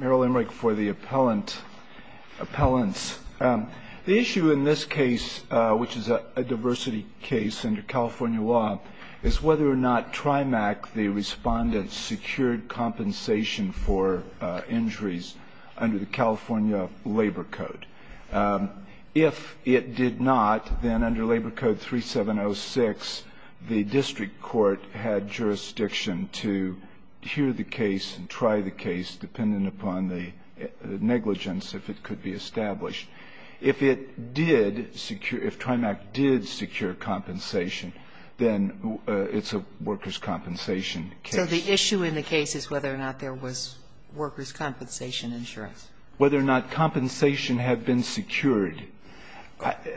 The issue in this case, which is a diversity case under California law, is whether or not Trimac, the respondent, secured compensation for injuries under the California Labor Code. If it did not, then under Labor Code 3706, the district court had jurisdiction to hear the case and try the case, depending upon the negligence, if it could be established. If it did secure – if Trimac did secure compensation, then it's a workers' compensation case. So the issue in the case is whether or not there was workers' compensation insurance? Whether or not compensation had been secured.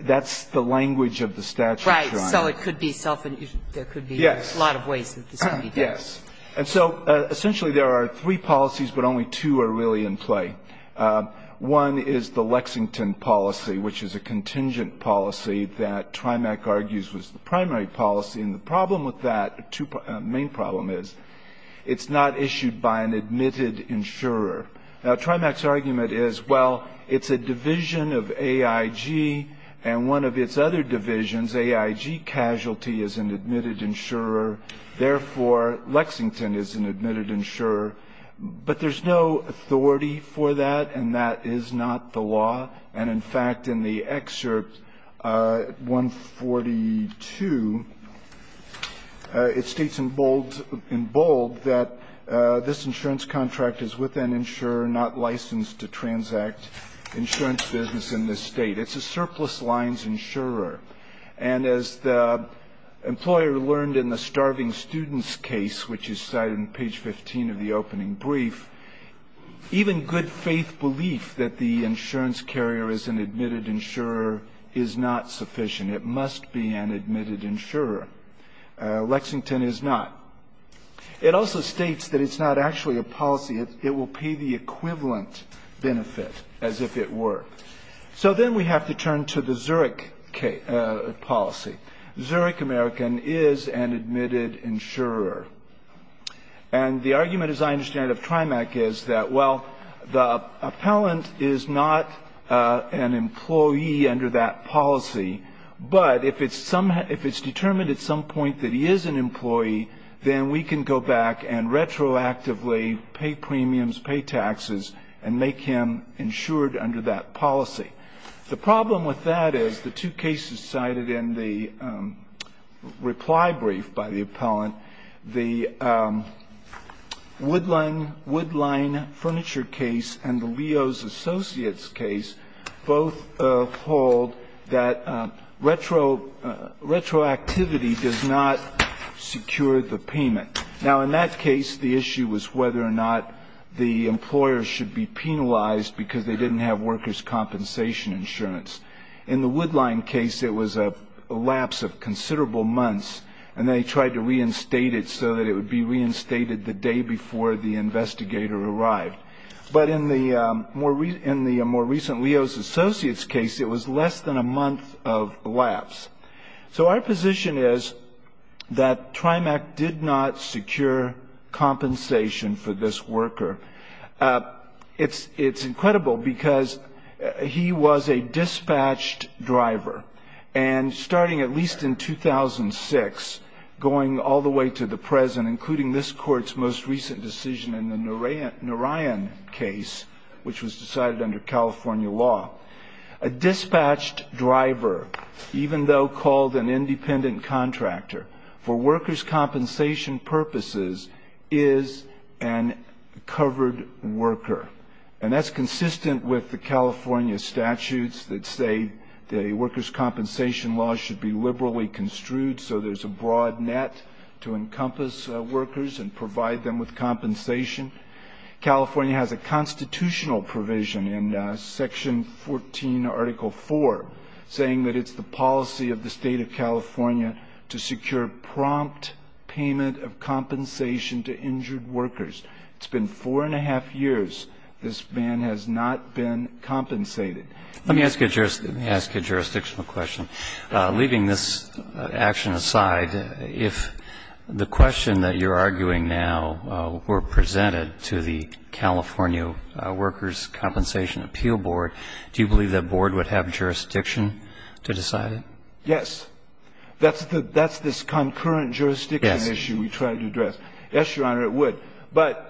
That's the language of the statute, Your Honor. Right. So it could be self-injury. There could be a lot of ways that this could be done. Yes. And so essentially there are three policies, but only two are really in play. One is the Lexington policy, which is a contingent policy that Trimac argues was the primary policy. And the problem with that, the main problem is, it's not issued by an admitted insurer. Now, Trimac's argument is, well, it's a division of AIG and one of its other divisions, AIG Casualty, is an admitted insurer. Therefore, Lexington is an admitted insurer. But there's no authority for that, and that is not the law. And in fact, in the excerpt 142, it states in bold that this insurance contract is with an insurer, not licensed to transact insurance business in this state. It's a surplus lines insurer. And as the employer learned in the starving students case, which is cited in page 15 of the opening brief, even good faith belief that the insurance carrier is an admitted insurer is not sufficient. It must be an admitted insurer. Lexington is not. It also states that it's not actually a policy. It will pay the equivalent benefit, as if it were. So then we have to turn to the Zurich policy. Zurich American is an admitted insurer. And the argument, as I understand it, of TRIMAC is that, well, the appellant is not an employee under that policy. But if it's determined at some point that he is an employee, then we can go back and retroactively pay premiums, pay taxes, and make him insured under that policy. The problem with that is the two cases cited in the reply brief by the appellant, the Woodline Furniture case and the Leo's Associates case both hold that retroactivity does not secure the payment. Now, in that case, the issue was whether or not the employer should be penalized because they didn't have workers' compensation insurance. In the Woodline case, it was a lapse of considerable months, and they tried to reinstate it so that it would be reinstated the day before the investigator arrived. But in the more recent Leo's Associates case, it was less than a month of lapse. So our position is that TRIMAC did not secure compensation for this worker. It's incredible because he was a dispatched driver. And starting at least in 2006, going all the way to the present, including this court's most recent decision in the Narayan case, which was decided under California law, a dispatched driver, even though called an independent contractor, for workers' compensation purposes, is an covered worker. And that's consistent with the California statutes that say the workers' compensation law should be liberally construed so there's a broad net to encompass workers and provide them with compensation. California has a constitutional provision in section 14, article 4, saying that it's the policy of the state of California to secure prompt payment of compensation to injured workers. It's been four and a half years. This man has not been compensated. Let me ask a jurisdictional question. Leaving this action aside, if the question that you're arguing now were presented to the California Workers' Compensation Appeal Board, do you believe that board would have jurisdiction to decide it? Yes. That's this concurrent jurisdiction issue we tried to address. Yes, Your Honor, it would. But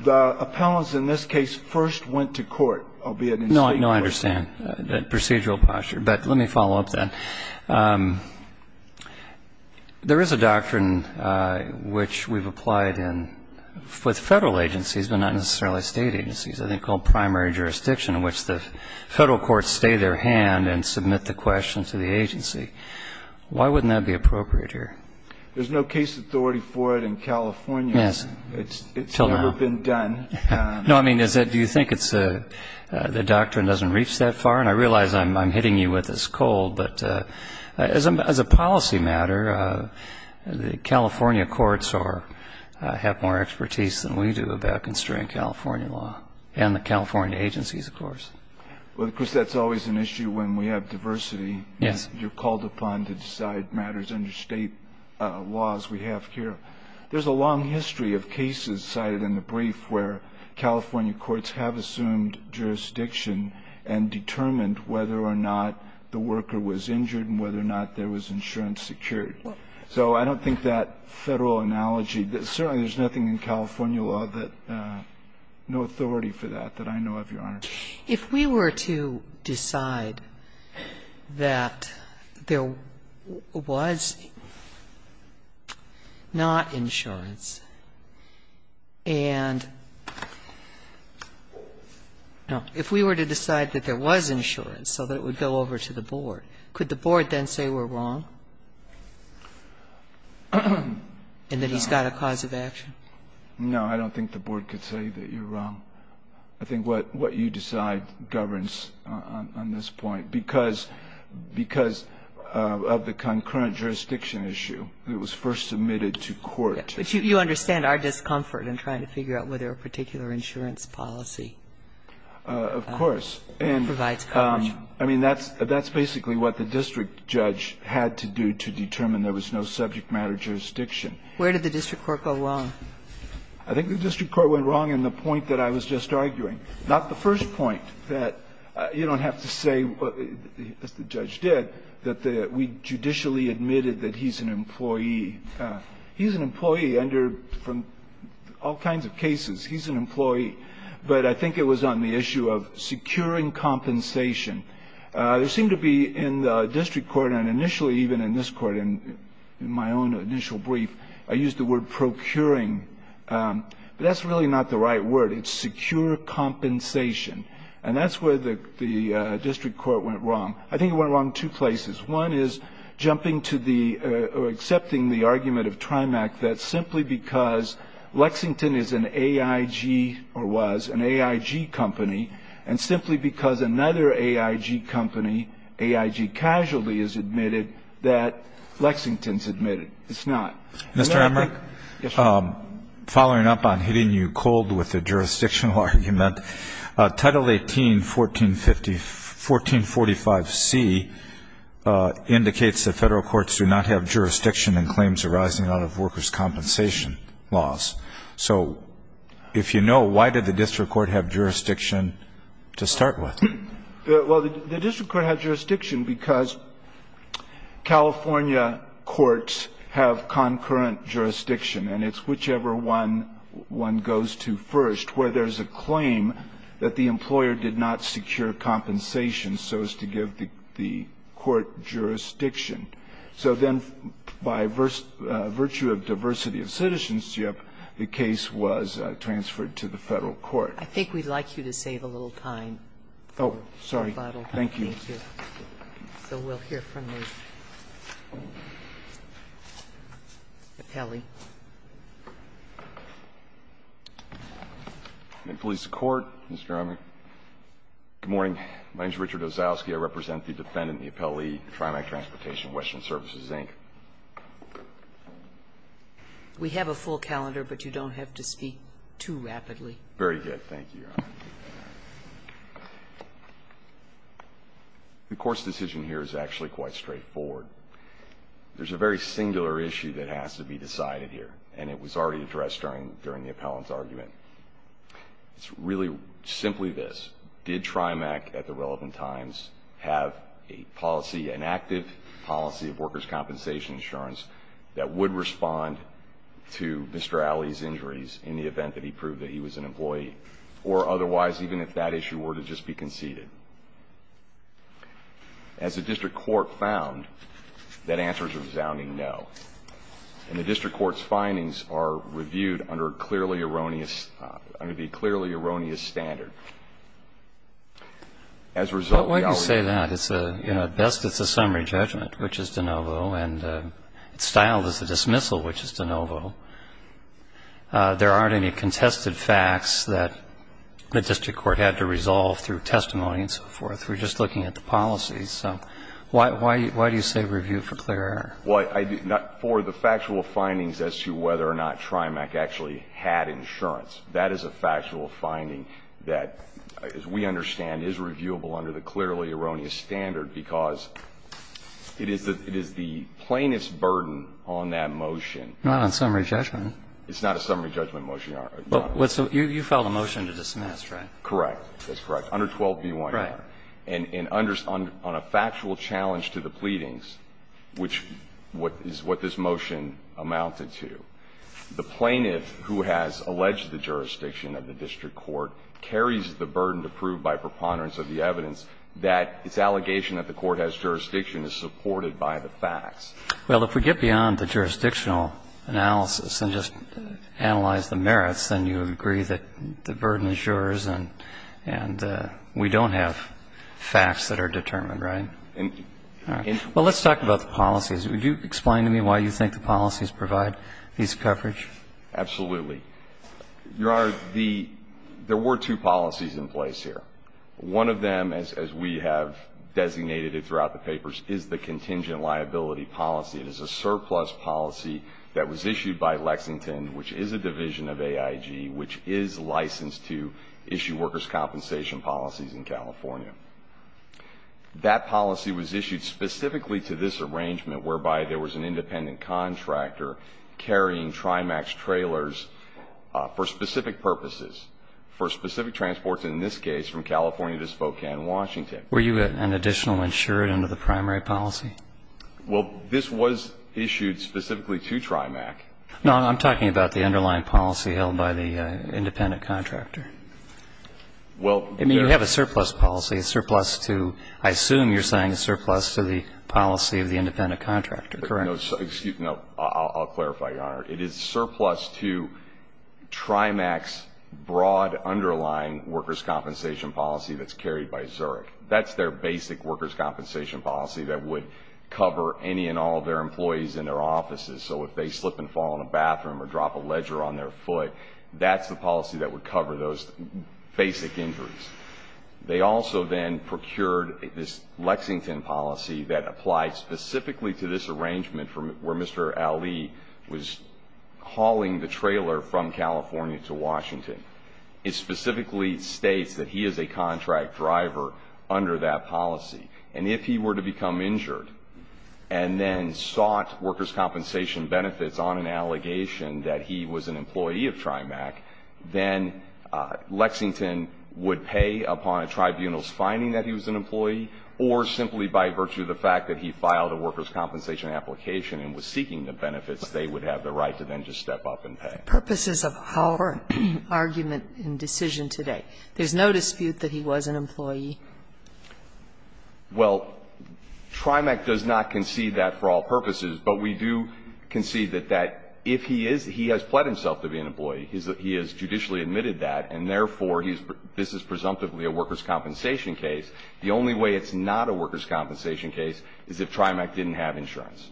the appellants in this case first went to court, albeit in state court. No, I understand that procedural posture. But let me follow up then. There is a doctrine which we've applied with federal agencies, but not necessarily state agencies, I think called primary jurisdiction, in which the federal courts stay their hand and submit the question to the agency. Why wouldn't that be appropriate here? There's no case authority for it in California. Yes. It's never been done. No, I mean, do you think the doctrine doesn't reach that far? And I realize I'm hitting you with this cold. But as a policy matter, the California courts have more expertise than we do about constraining California law, and the California agencies, of course. Well, of course, that's always an issue when we have diversity. Yes. You're called upon to decide matters under state laws we have here. There's a long history of cases cited in the brief where California courts have assumed jurisdiction and determined whether or not the worker was injured and whether or not there was insurance security. I don't know of any law that no authority for that, that I know of, Your Honor. If we were to decide that there was not insurance and no, if we were to decide that there was insurance so that it would go over to the board, could the board then say we're wrong and that he's got a cause of action? No, I don't think the board could say that you're wrong. I think what you decide governs on this point. Because of the concurrent jurisdiction issue, it was first submitted to court. But you understand our discomfort in trying to figure out whether a particular insurance policy provides coverage. Of course. I mean, that's basically what the district judge had to do to determine there was no subject matter jurisdiction. Where did the district court go wrong? I think the district court went wrong in the point that I was just arguing. Not the first point, that you don't have to say, as the judge did, that we judicially admitted that he's an employee. He's an employee under, from all kinds of cases, he's an employee. But I think it was on the issue of securing compensation. There seemed to be in the district court, and initially even in this court, and in my own initial brief, I used the word procuring. But that's really not the right word. It's secure compensation. And that's where the district court went wrong. I think it went wrong two places. One is jumping to the, or accepting the argument of TRIMAC that simply because Lexington is an AIG, or was, an AIG company. And simply because another AIG company, AIG Casualty, is admitted that Lexington's admitted. It's not. Mr. Emmerich, following up on hitting you cold with the jurisdictional argument, Title 18, 1450, 1445C indicates that Federal courts do not have jurisdiction in claims arising out of workers' compensation laws. So if you know, why did the district court have jurisdiction to start with? Well, the district court had jurisdiction because California courts have concurrent jurisdiction, and it's whichever one one goes to first, where there's a claim that the employer did not secure compensation so as to give the court jurisdiction. So then by virtue of diversity of citizenship, the case was transferred to the Federal court. I think we'd like you to save a little time. Oh, sorry. Thank you. So we'll hear from the appellee. I'm in police court, Mr. Emmerich. Good morning. My name is Richard Ozowsky. I represent the defendant, the appellee, TRIMAC Transportation, Western Services Inc. We have a full calendar, but you don't have to speak too rapidly. Very good. Thank you. The court's decision here is actually quite straightforward. There's a very singular issue that has to be decided here, and it was already addressed during the appellant's argument. It's really simply this. Did TRIMAC at the relevant times have a policy, an active policy of workers' compensation insurance that would respond to Mr. Alley's injuries in the event that he proved that he was an employee, or otherwise, even if that issue were to just be conceded? As the district court found, that answer is a resounding no. And the district court's findings are reviewed under a clearly erroneous As a result, the Alley case is not a conclusive case. But when you say that, it's a, you know, at best, it's a summary judgment, which is de novo, and it's styled as a dismissal, which is de novo. There aren't any contested facts that the district court had to resolve through testimony and so forth. We're just looking at the policies. So why do you say reviewed for clear error? Well, I did not, for the factual findings as to whether or not TRIMAC actually had insurance, that is a factual finding that, as we understand, is reviewable under the clearly erroneous standard, because it is the plaintiff's burden on that motion. Not on summary judgment. It's not a summary judgment motion, Your Honor. You filed a motion to dismiss, right? Correct. That's correct. Under 12B1R. Right. And on a factual challenge to the pleadings, which is what this motion amounted to, the plaintiff who has alleged the jurisdiction of the district court carries the burden to prove by preponderance of the evidence that its allegation that the court has jurisdiction is supported by the facts. Well, if we get beyond the jurisdictional analysis and just analyze the merits, then you agree that the burden is yours and we don't have facts that are determined, right? Well, let's talk about the policies. Would you explain to me why you think the policies provide these coverage? Absolutely. Your Honor, the – there were two policies in place here. One of them, as we have designated it throughout the papers, is the contingent liability policy. It is a surplus policy that was issued by Lexington, which is a division of AIG, which is licensed to issue workers' compensation policies in California. That policy was issued specifically to this arrangement, whereby there was an independent contractor carrying Trimax trailers for specific purposes, for specific transports, in this case, from California to Spokane, Washington. Were you an additional insured under the primary policy? Well, this was issued specifically to Trimax. No, I'm talking about the underlying policy held by the independent contractor. Well, there's – I mean, you have a surplus policy, a surplus to – I assume you're saying a surplus to the policy of the independent contractor, correct? No. Excuse me. No. I'll clarify, Your Honor. It is surplus to Trimax's broad underlying workers' compensation policy that's carried by Zurich. That's their basic workers' compensation policy that would cover any and all of their employees in their offices. So if they slip and fall in a bathroom or drop a ledger on their foot, that's the policy that would cover those basic injuries. They also then procured this Lexington policy that applied specifically to this arrangement from where Mr. Ali was hauling the trailer from California to Washington. It specifically states that he is a contract driver under that policy. And if he were to become injured and then sought workers' compensation benefits on an allegation that he was an employee of Trimax, then Lexington would pay upon a tribunal's finding that he was an employee, or simply by virtue of the fact that he filed a workers' compensation application and was seeking the benefits, they would have the right to then just step up and pay. Sotomayor, for the purposes of our argument and decision today, there's no dispute that he was an employee? Well, Trimax does not concede that for all purposes, but we do concede that if he is, he has pled himself to be an employee. He has judicially admitted that, and therefore this is presumptively a workers' compensation case. The only way it's not a workers' compensation case is if Trimax didn't have insurance.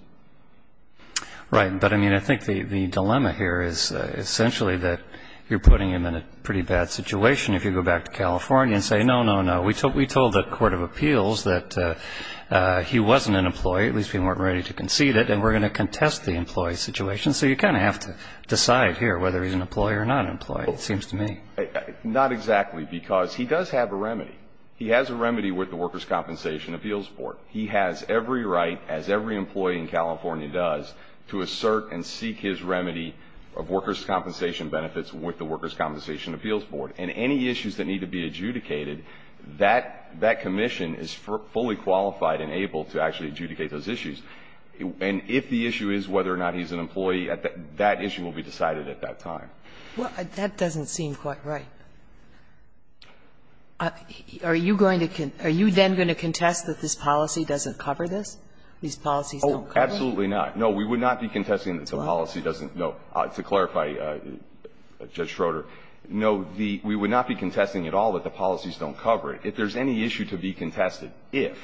Right. But, I mean, I think the dilemma here is essentially that you're putting him in a pretty bad situation if you go back to California and say, no, no, no, we told the Court of Appeals that he wasn't an employee, at least we weren't ready to concede it, and we're going to contest the employee situation. So you kind of have to decide here whether he's an employee or not an employee, it seems to me. Not exactly, because he does have a remedy. He has a remedy with the Workers' Compensation Appeals Board. He has every right, as every employee in California does, to assert and seek his remedy of workers' compensation benefits with the Workers' Compensation Appeals Board. And any issues that need to be adjudicated, that commission is fully qualified and able to actually adjudicate those issues. And if the issue is whether or not he's an employee, that issue will be decided at that time. Well, that doesn't seem quite right. Are you going to con – are you then going to contest that this policy doesn't cover this, these policies don't cover it? Oh, absolutely not. No, we would not be contesting that the policy doesn't – no. To clarify, Judge Schroeder, no, the – we would not be contesting at all that the policies don't cover it. If there's any issue to be contested, if,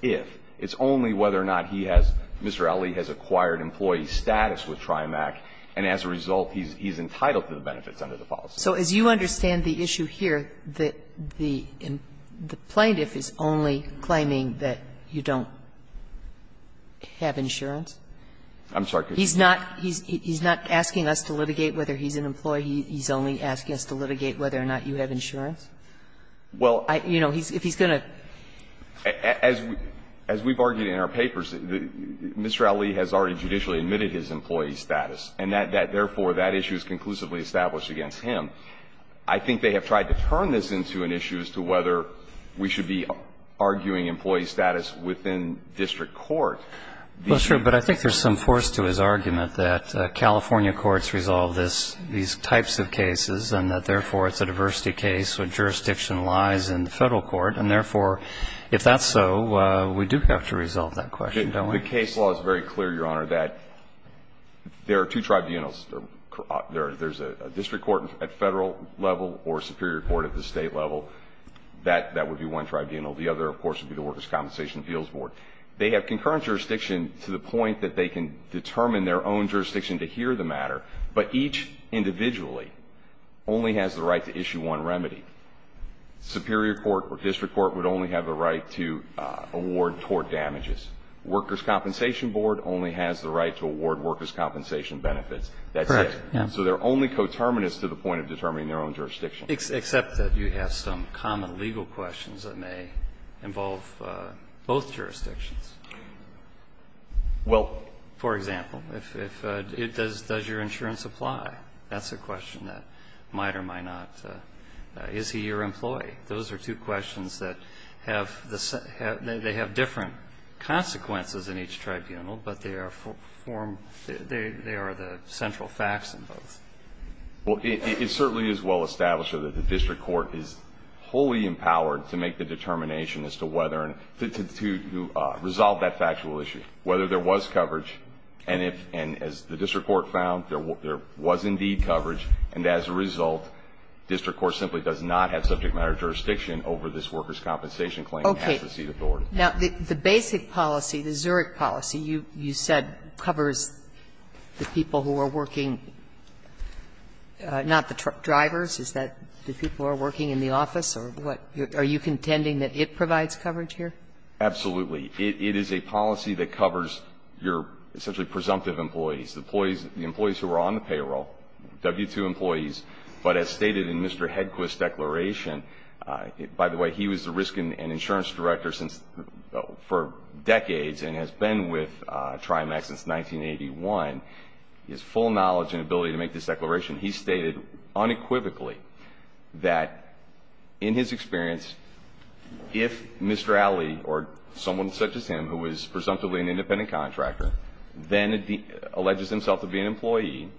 if, it's only whether or not he has – Mr. Ali has acquired employee status with TRIMAC, and as a result, he's entitled to the benefits under the policy. So as you understand the issue here, that the plaintiff is only claiming that you don't have insurance? I'm sorry. He's not – he's not asking us to litigate whether he's an employee. He's only asking us to litigate whether or not you have insurance? Well, I – you know, he's – if he's going to – As we've argued in our papers, Mr. Ali has already judicially admitted his employee status, and that, therefore, that issue is conclusively established against him. I think they have tried to turn this into an issue as to whether we should be arguing employee status within district court. Well, sure, but I think there's some force to his argument that California courts resolve this – these types of cases, and that, therefore, it's a diversity case, so jurisdiction lies in the federal court, and, therefore, if that's so, we do have to resolve that question, don't we? I think the case law is very clear, Your Honor, that there are two tribunals. There's a district court at federal level or a superior court at the state level. That would be one tribunal. The other, of course, would be the Workers' Compensation Appeals Board. They have concurrent jurisdiction to the point that they can determine their own jurisdiction to hear the matter, but each individually only has the right to issue one remedy. Superior court or district court would only have a right to award tort damages. Workers' Compensation Board only has the right to award workers' compensation benefits. That's it. Correct. Yeah. So they're only coterminous to the point of determining their own jurisdiction. Except that you have some common legal questions that may involve both jurisdictions. Well, for example, does your insurance apply? That's a question that might or might not. Is he your employee? Those are two questions that have different consequences in each tribunal, but they are the central facts in both. Well, it certainly is well established that the district court is wholly empowered to make the determination as to whether to resolve that factual issue, whether there was coverage. And as the district court found, there was indeed coverage. And as a result, district court simply does not have subject matter jurisdiction over this workers' compensation claim and has the seat authority. Okay. Now, the basic policy, the Zurich policy, you said covers the people who are working not the drivers, is that the people who are working in the office or what? Are you contending that it provides coverage here? Absolutely. It is a policy that covers your essentially presumptive employees. The employees who are on the payroll, W-2 employees. But as stated in Mr. Hedquist's declaration, by the way, he was the risk and insurance director for decades and has been with Trimax since 1981. His full knowledge and ability to make this declaration, he stated unequivocally that in his experience, if Mr. Alley or someone such as him who is presumptively an independent contractor then alleges himself to be an employee,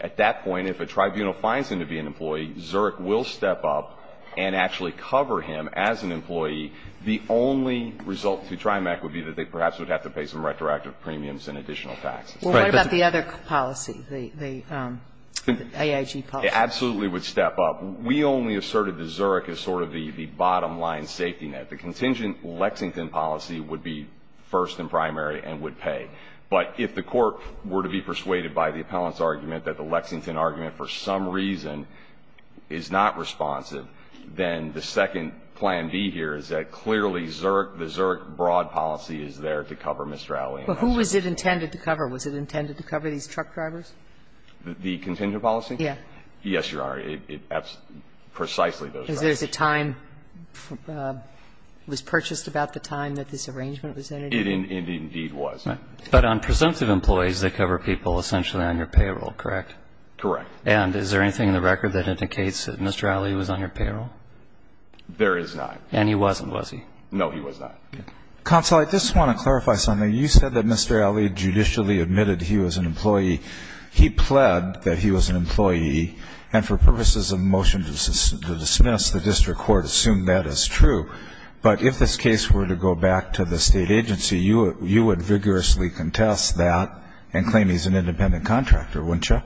at that point, if a tribunal finds him to be an employee, Zurich will step up and actually cover him as an employee. The only result to Trimax would be that they perhaps would have to pay some retroactive premiums and additional taxes. Well, what about the other policy, the AIG policy? It absolutely would step up. We only asserted that Zurich is sort of the bottom line safety net. The contingent Lexington policy would be first and primary and would pay. But if the Court were to be persuaded by the appellant's argument that the Lexington argument for some reason is not responsive, then the second plan B here is that clearly Zurich, the Zurich broad policy is there to cover Mr. Alley. But who was it intended to cover? Was it intended to cover these truck drivers? The contingent policy? Yes. Yes, Your Honor. It's precisely those drivers. Was there a time, was purchased about the time that this arrangement was entered? It indeed was. But on presumptive employees, they cover people essentially on your payroll, correct? Correct. And is there anything in the record that indicates that Mr. Alley was on your payroll? There is not. And he wasn't, was he? No, he was not. Counsel, I just want to clarify something. You said that Mr. Alley judicially admitted he was an employee. He pled that he was an employee. And for purposes of motion to dismiss, the district court assumed that is true. But if this case were to go back to the state agency, you would vigorously contest that and claim he's an independent contractor, wouldn't you?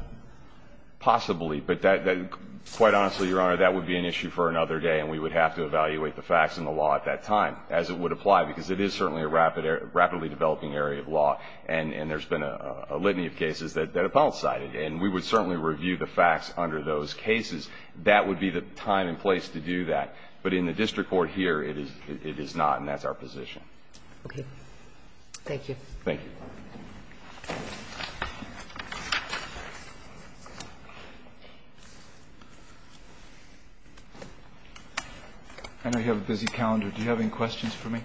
Possibly. But quite honestly, Your Honor, that would be an issue for another day, and we would have to evaluate the facts and the law at that time, as it would apply, because it is certainly a rapidly developing area of law. And there's been a litany of cases that have falsified it. And we would certainly review the facts under those cases. That would be the time and place to do that. But in the district court here, it is not, and that's our position. Okay. Thank you. Thank you. I know you have a busy calendar. Do you have any questions for me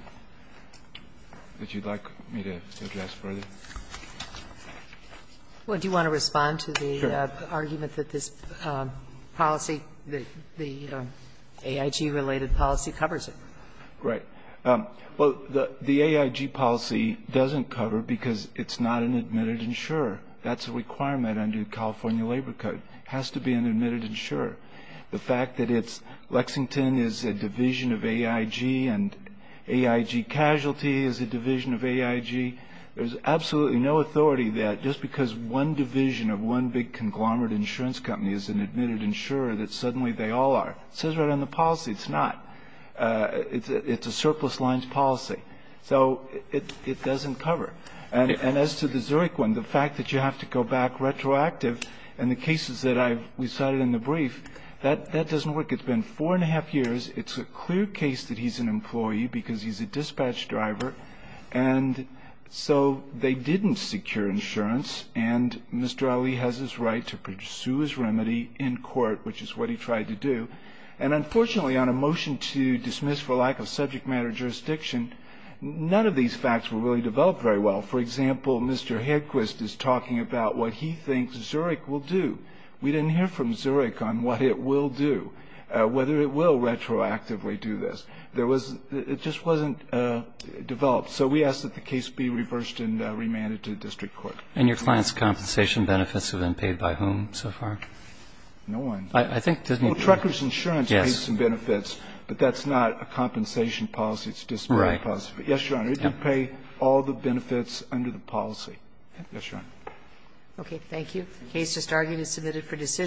that you'd like me to address further? Well, do you want to respond to the argument that this policy, the AIG-related policy covers it? Right. Well, the AIG policy doesn't cover because it's not an admitted insurer. That's a requirement under the California Labor Code. It has to be an admitted insurer. The fact that it's Lexington is a division of AIG and AIG Casualty is a division of AIG, there's absolutely no authority that just because one division of one big conglomerate insurance company is an admitted insurer that suddenly they all are. It says right on the policy it's not. It's a surplus lines policy. So it doesn't cover. And as to the Zurich one, the fact that you have to go back retroactive, and the cases that I've cited in the brief, that doesn't work. It's been four and a half years. It's a clear case that he's an employee because he's a dispatch driver. And so they didn't secure insurance. And Mr. Ali has his right to pursue his remedy in court, which is what he tried to do. And unfortunately, on a motion to dismiss for lack of subject matter jurisdiction, none of these facts were really developed very well. For example, Mr. Hedquist is talking about what he thinks Zurich will do. We didn't hear from Zurich on what it will do, whether it will retroactively do this. It just wasn't developed. So we ask that the case be reversed and remanded to district court. And your client's compensation benefits have been paid by whom so far? No one. Well, Trecker's Insurance pays some benefits, but that's not a compensation policy, it's a disability policy. Yes, Your Honor, it did pay all the benefits under the policy. Yes, Your Honor. Okay. Thank you. The case just argued is submitted for decision.